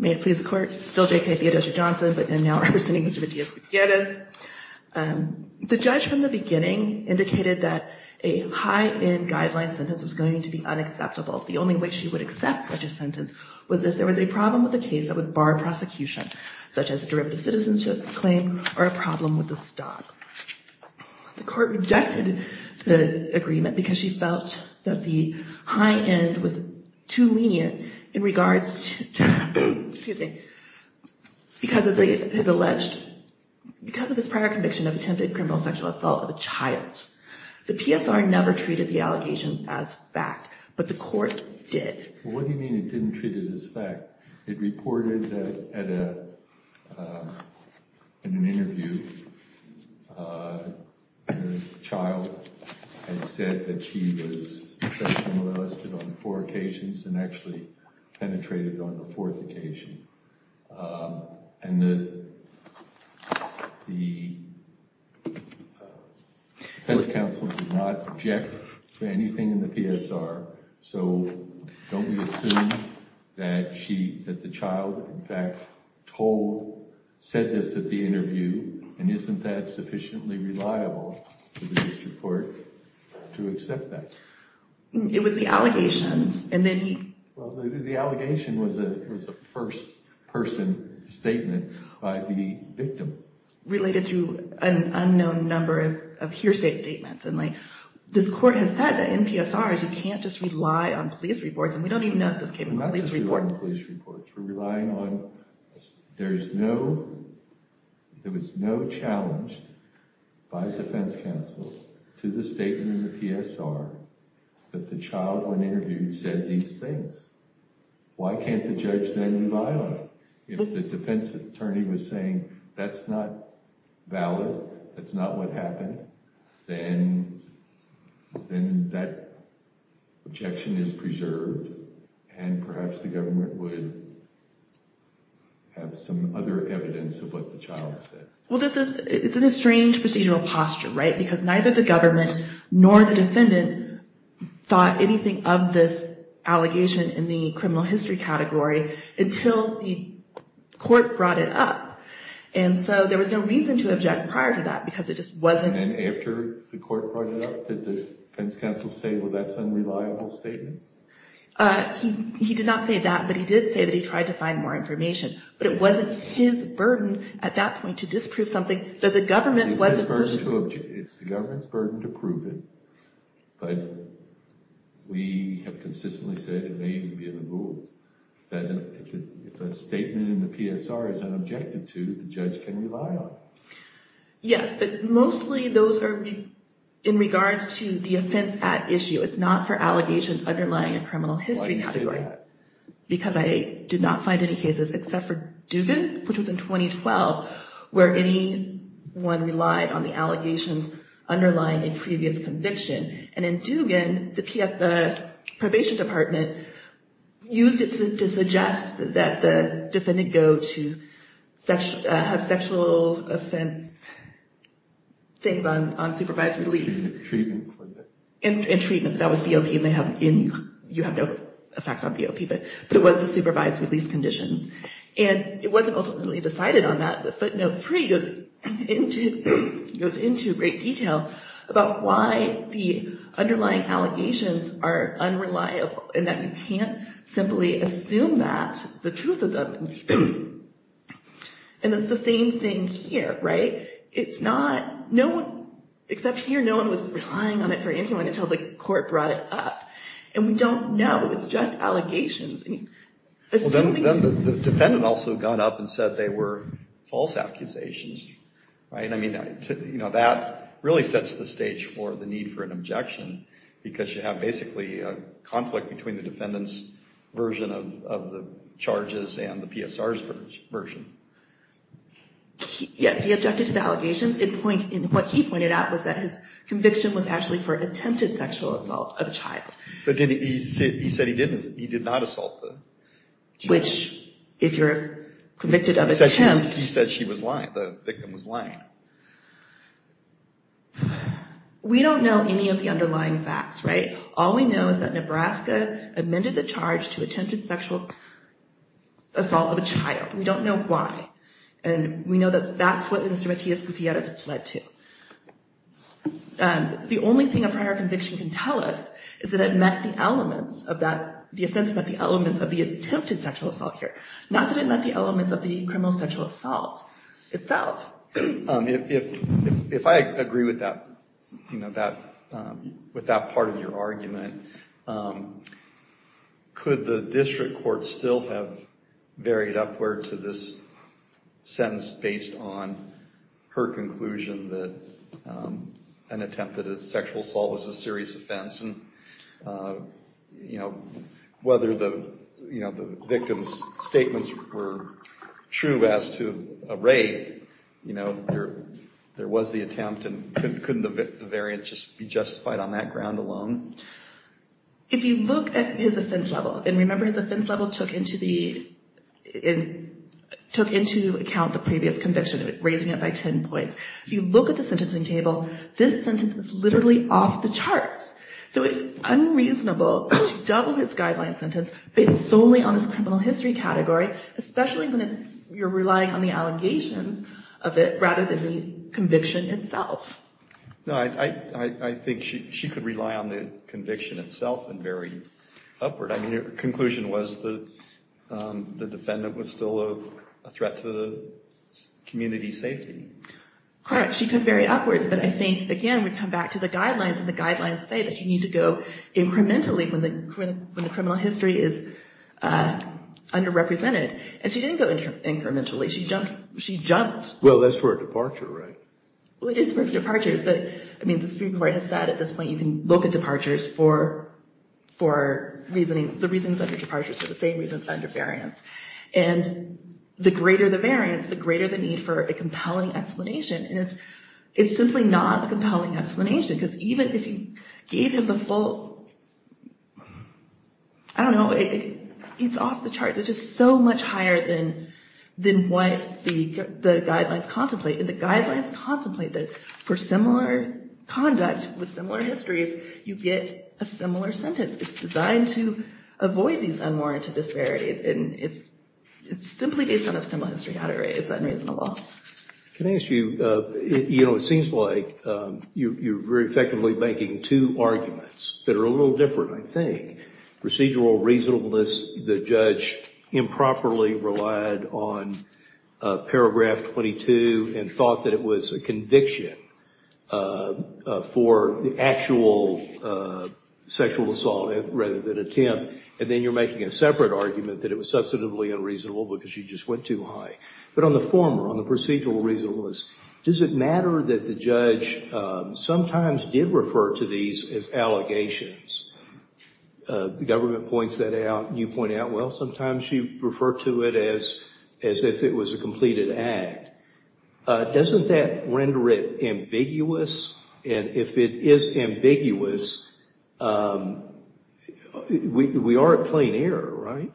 May it please the court, still J.K. Theodosia-Johnson, but now representing Mr. Matias-Gutierrez. The judge from the beginning indicated that a high-end guideline sentence was going to be unacceptable. The only way she would accept such a sentence was if there was a problem with the case that would bar prosecution, such as derivative citizenship claim or a problem with the stop. The court rejected the agreement because she felt that the high-end was too lenient in regards to, excuse me, because of his alleged, because of his prior conviction of attempted criminal sexual assault of a child. The PSR never treated the allegations as fact, but the court did. What do you mean it didn't treat it as fact? It reported that in an interview, the child had said that she was sexually molested on four occasions and actually penetrated on the fourth occasion. And the defense counsel did not object to anything in the PSR. So don't we assume that she, that the child, in fact, told, said this at the interview, and isn't that sufficiently reliable for the district court to accept that? It was the allegations, and then he... Well, the allegation was a first-person statement by the victim. Related to an unknown number of hearsay statements. And this court has said that in PSRs, you can't just rely on police reports, and we don't even know if this came from a police report. We're not just relying on police reports. We're relying on, there's no, there was no challenge by the defense counsel to the statement in the PSR that the child, when interviewed, said these things. Why can't the judge then rely on it? If the defense attorney was saying, that's not valid, that's not what happened, then that objection is preserved, and perhaps the government would have some other evidence of what the child said. Well, this is, it's a strange procedural posture, right? Because neither the government nor the defendant thought anything of this allegation in the criminal history category until the court brought it up. And so there was no reason to object prior to that, because it just wasn't... And after the court brought it up, did the defense counsel say, well, that's an unreliable statement? He did not say that, but he did say that he tried to find more information. But it wasn't his burden at that point to disprove something that the government... It's the government's burden to prove it, but we have consistently said it may even be in the rule that if a statement in the PSR is unobjected to, the judge can rely on it. Yes, but mostly those are in regards to the offense at issue. It's not for allegations underlying a criminal history category. Why do you say that? Because I did not find any cases except for Dugan, which was in 2012, where anyone relied on the allegations underlying a previous conviction. And in Dugan, the probation department used it to suggest that the defendant go to have sexual offense things on supervised release. And treatment. And treatment. That was BOP, and you have no effect on BOP. But it was the supervised release conditions. And it wasn't ultimately decided on that, but footnote three goes into great detail about why the underlying allegations are unreliable, and that you can't simply assume that, the truth of them. And it's the same thing here, right? It's not... Except here, no one was relying on it for anyone until the court brought it up. And we don't know. It's just allegations. Well, then the defendant also got up and said they were false accusations. That really sets the stage for the need for an objection, because you have basically a conflict between the defendant's version of the charges and the PSR's version. Yes, he objected to the allegations. And what he pointed out was that his conviction was actually for attempted sexual assault of a child. He said he did not assault the child. Which, if you're convicted of attempt... He said she was lying. The victim was lying. We don't know any of the underlying facts, right? All we know is that Nebraska amended the charge to attempted sexual assault of a child. We don't know why. And we know that that's what Mr. Matias Gutierrez fled to. The only thing a prior conviction can tell us is that it met the elements of that... The offense met the elements of the attempted sexual assault here. Not that it met the elements of the criminal sexual assault itself. If I agree with that part of your argument, could the district court still have varied upward to this sentence based on her conclusion that an attempted sexual assault was a serious offense? And whether the victim's statements were true as to a rape, there was the attempt, and couldn't the variance just be justified on that ground alone? If you look at his offense level, and remember his offense level took into account the previous conviction, raising it by 10 points. If you look at the sentencing table, this sentence is literally off the charts. So it's unreasonable to double this guideline sentence based solely on this criminal history category, especially when you're relying on the allegations of it rather than the conviction itself. No, I think she could rely on the conviction itself and vary upward. I mean, her conclusion was that the defendant was still a threat to the community's safety. Correct. She could vary upwards. But I think, again, we come back to the guidelines, and the guidelines say that you need to go incrementally when the criminal history is underrepresented. And she didn't go incrementally. She jumped. Well, that's for a departure, right? Well, it is for departures. The Supreme Court has said at this point you can look at departures for the reasons under departures for the same reasons under variance. And the greater the variance, the greater the need for a compelling explanation. And it's simply not a compelling explanation, because even if you gave him the full— I don't know, it's off the charts. It's just so much higher than what the guidelines contemplate. And the guidelines contemplate that for similar conduct with similar histories, you get a similar sentence. It's designed to avoid these unwarranted disparities, and it's simply based on a criminal history category. It's unreasonable. Can I ask you, you know, it seems like you're very effectively making two arguments that are a little different, I think. Procedural reasonableness, the judge improperly relied on paragraph 22 and thought that it was a conviction for the actual sexual assault rather than attempt. And then you're making a separate argument that it was substantively unreasonable because she just went too high. But on the former, on the procedural reasonableness, does it matter that the judge sometimes did refer to these as allegations? The government points that out. You point out, well, sometimes you refer to it as if it was a completed act. Doesn't that render it ambiguous? And if it is ambiguous, we are at plain error, right?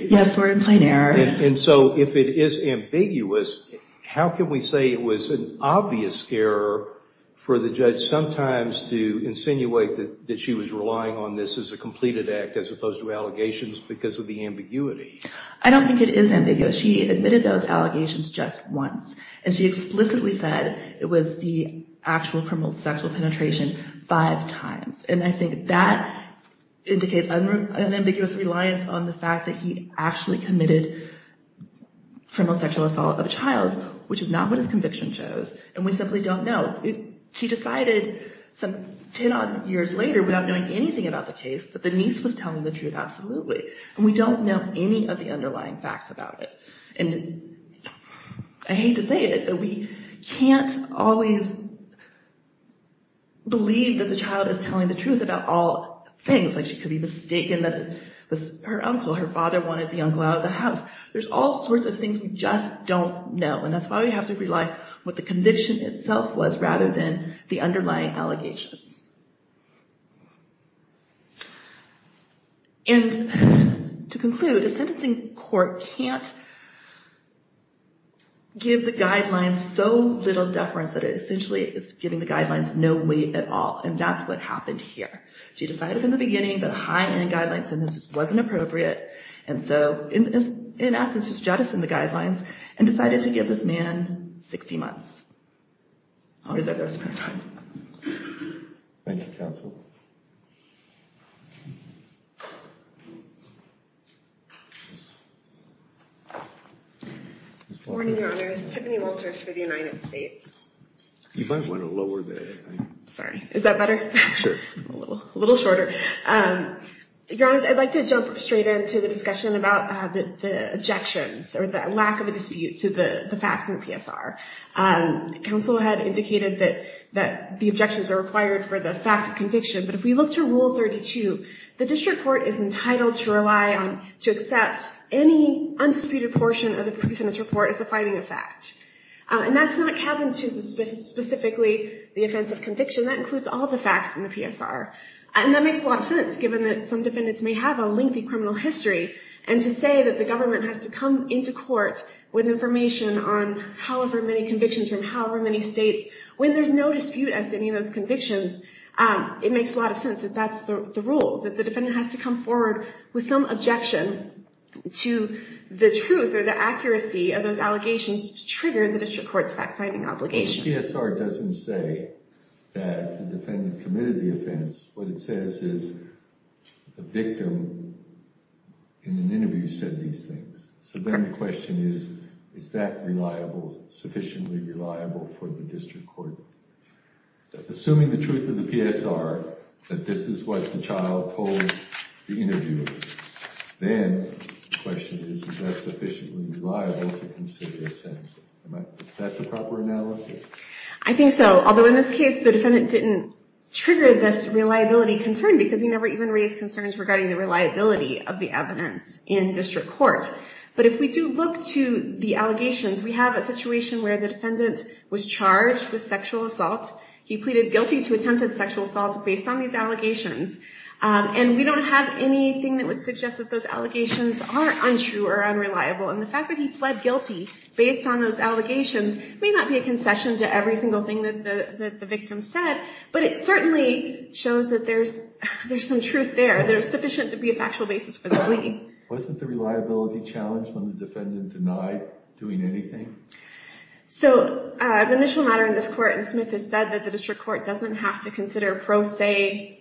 Yes, we're at plain error. And so if it is ambiguous, how can we say it was an obvious error for the judge and sometimes to insinuate that she was relying on this as a completed act as opposed to allegations because of the ambiguity? I don't think it is ambiguous. She admitted those allegations just once. And she explicitly said it was the actual criminal sexual penetration five times. And I think that indicates an ambiguous reliance on the fact that he actually committed criminal sexual assault of a child, which is not what his conviction shows. And we simply don't know. She decided some 10-odd years later without knowing anything about the case that the niece was telling the truth, absolutely. And we don't know any of the underlying facts about it. And I hate to say it, but we can't always believe that the child is telling the truth about all things, like she could be mistaken that it was her uncle. Her father wanted the uncle out of the house. There's all sorts of things we just don't know. And that's why we have to rely on what the conviction itself was rather than the underlying allegations. And to conclude, a sentencing court can't give the guidelines so little deference that it essentially is giving the guidelines no weight at all. And that's what happened here. She decided from the beginning that a high-end guideline sentence wasn't appropriate and so in essence just jettisoned the guidelines and decided to give this man 60 months. I'll reserve the rest of my time. Thank you, counsel. Good morning, Your Honors. Tiffany Wolters for the United States. You might want to lower the... Sorry. Is that better? Sure. A little shorter. Your Honors, I'd like to jump straight into the discussion about the objections or the lack of a dispute to the facts in the PSR. Counsel had indicated that the objections are required for the fact of conviction. But if we look to Rule 32, the district court is entitled to rely on, to accept any undisputed portion of the pre-sentence report as a finding of fact. And that's not cabin to specifically the offense of conviction. That includes all the facts in the PSR. And that makes a lot of sense given that some defendants may have a lengthy criminal history and to say that the government has to come into court with information on however many convictions from however many states, when there's no dispute as to any of those convictions, it makes a lot of sense that that's the rule, that the defendant has to come forward with some objection to the truth or the accuracy of those allegations to trigger the district court's fact-finding obligation. The PSR doesn't say that the defendant committed the offense. What it says is the victim, in an interview, said these things. So then the question is, is that reliable, sufficiently reliable for the district court? Assuming the truth of the PSR, that this is what the child told the interviewer, then the question is, is that sufficiently reliable to consider a sentence? Is that the proper analogy? I think so. Although in this case, the defendant didn't trigger this reliability concern because he never even raised concerns regarding the reliability of the evidence in district court. But if we do look to the allegations, we have a situation where the defendant was charged with sexual assault. He pleaded guilty to attempted sexual assault based on these allegations. And we don't have anything that would suggest that those allegations are untrue or unreliable. And the fact that he pled guilty based on those allegations may not be a concession to every single thing that the victim said, but it certainly shows that there's some truth there. There's sufficient to be a factual basis for the plea. Wasn't the reliability challenged when the defendant denied doing anything? So as an initial matter in this court, and Smith has said that the district court doesn't have to consider pro se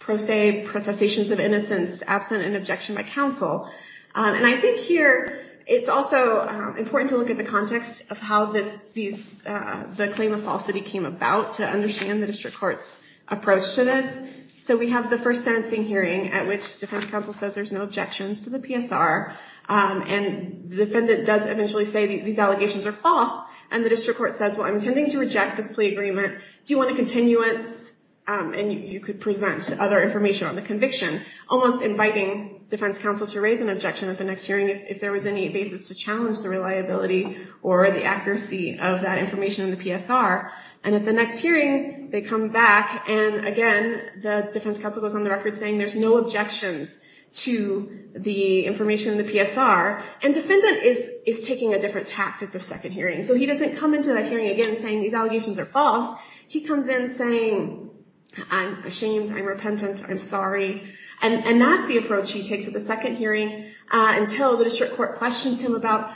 processions of innocence absent an objection by counsel. And I think here it's also important to look at the context of how the claim of falsity came about to understand the district court's approach to this. So we have the first sentencing hearing at which defense counsel says there's no objections to the PSR. And the defendant does eventually say these allegations are false. And the district court says, well, I'm intending to reject this plea agreement. Do you want a continuance? And you could present other information on the conviction, almost inviting defense counsel to raise an objection at the next hearing, if there was any basis to challenge the reliability or the accuracy of that information in the PSR. And at the next hearing, they come back. And again, the defense counsel goes on the record saying there's no objections to the information in the PSR. And defendant is taking a different tact at the second hearing. So he doesn't come into that hearing again saying these allegations are false. He comes in saying, I'm ashamed. I'm repentant. I'm sorry. And that's the approach he takes at the second hearing until the district court questions him about,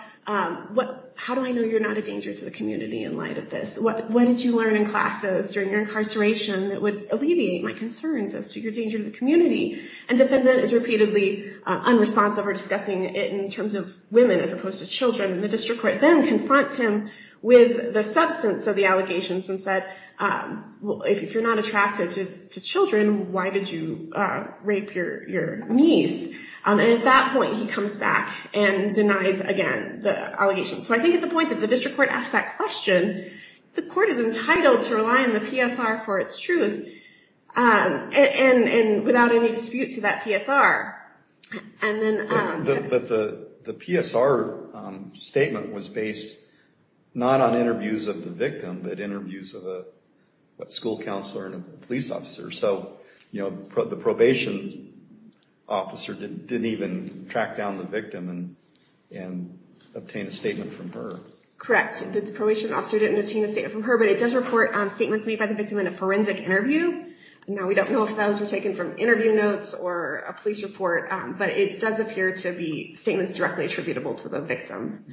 how do I know you're not a danger to the community in light of this? What did you learn in classes during your incarceration that would alleviate my concerns as to your danger to the community? And defendant is repeatedly unresponsive or discussing it in terms of women as opposed to children. And the district court then confronts him with the substance of the allegations and said, if you're not attracted to children, why did you rape your niece? And at that point, he comes back and denies, again, the allegations. So I think at the point that the district court asks that question, the court is entitled to rely on the PSR for its truth and without any dispute to that PSR. But the PSR statement was based not on interviews of the victim, but interviews of a school counselor and a police officer. So the probation officer didn't even track down the victim and obtain a statement from her. Correct. The probation officer didn't obtain a statement from her, but it does report statements made by the victim in a forensic interview. Now, we don't know if those were taken from interview notes or a police report, but it does appear to be statements directly attributable to the victim.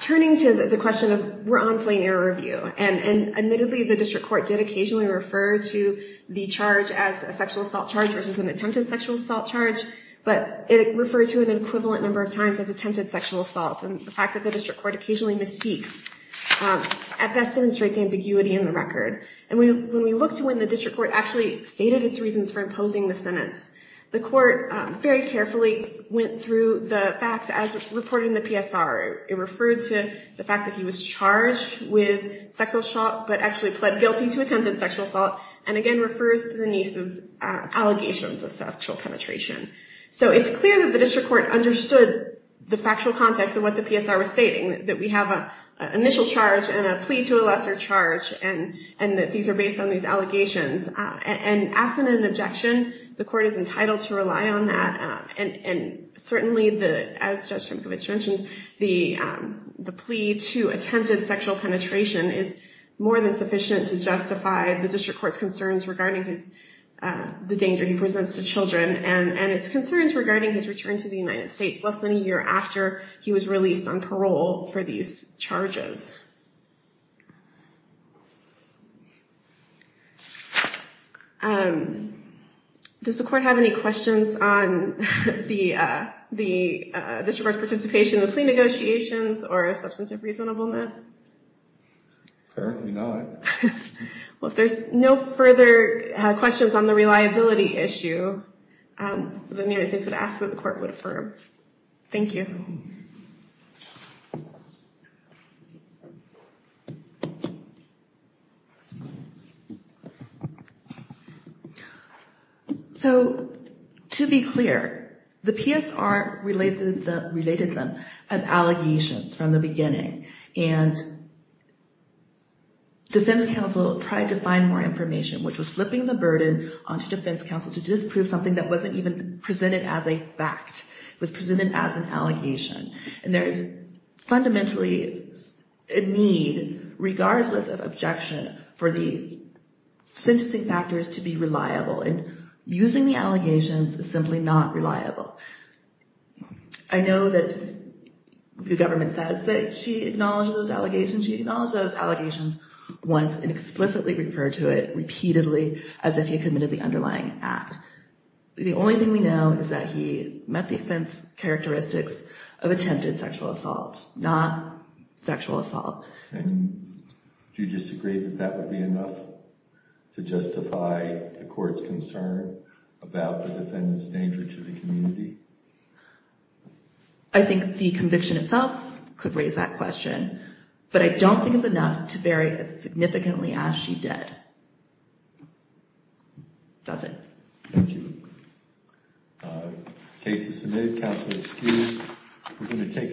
Turning to the question of, we're on plain error review. And admittedly, the district court did occasionally refer to the charge as a sexual assault charge versus an attempted sexual assault charge, but it referred to an equivalent number of times as attempted sexual assault. And the fact that the district court occasionally misspeaks at best demonstrates ambiguity in the record. And when we look to when the district court actually stated its reasons for imposing the sentence, the court very carefully went through the facts as reported in the PSR. It referred to the fact that he was charged with sexual assault, but actually pled guilty to attempted sexual assault, and again refers to the niece's allegations of sexual penetration. So it's clear that the district court understood the factual context of what the PSR was stating, that we have an initial charge and a plea to a lesser charge, and that these are based on these allegations. And absent an objection, the court is entitled to rely on that. And certainly, as Judge Trimkevich mentioned, the plea to attempted sexual penetration is more than sufficient to justify the district court's concerns regarding the danger he presents to children, and its concerns regarding his return to the United States less than a year after he was released on parole for these charges. Does the court have any questions on the district court's participation in the plea negotiations or a substantive reasonableness? Apparently not. Well, if there's no further questions on the reliability issue, then maybe I should ask that the court would affirm. Thank you. So, to be clear, the PSR related them as allegations from the beginning, and defense counsel tried to find more information, which was flipping the burden onto defense counsel to disprove something that wasn't even presented as a fact. It was presented as an allegation. And there is fundamentally a need, regardless of objection, for the sentencing factors to be reliable. And using the allegations is simply not reliable. I know that the government says that she acknowledged those allegations. She acknowledged those allegations once and explicitly referred to it repeatedly as if he had committed the underlying act. The only thing we know is that he met the offense characteristics of attempted sexual assault, not sexual assault. And do you disagree that that would be enough to justify the court's concern about the defendant's danger to the community? I think the conviction itself could raise that question. But I don't think it's enough to bury a significantly ashy dead. That's it. Thank you. The case is submitted. Counsel excused.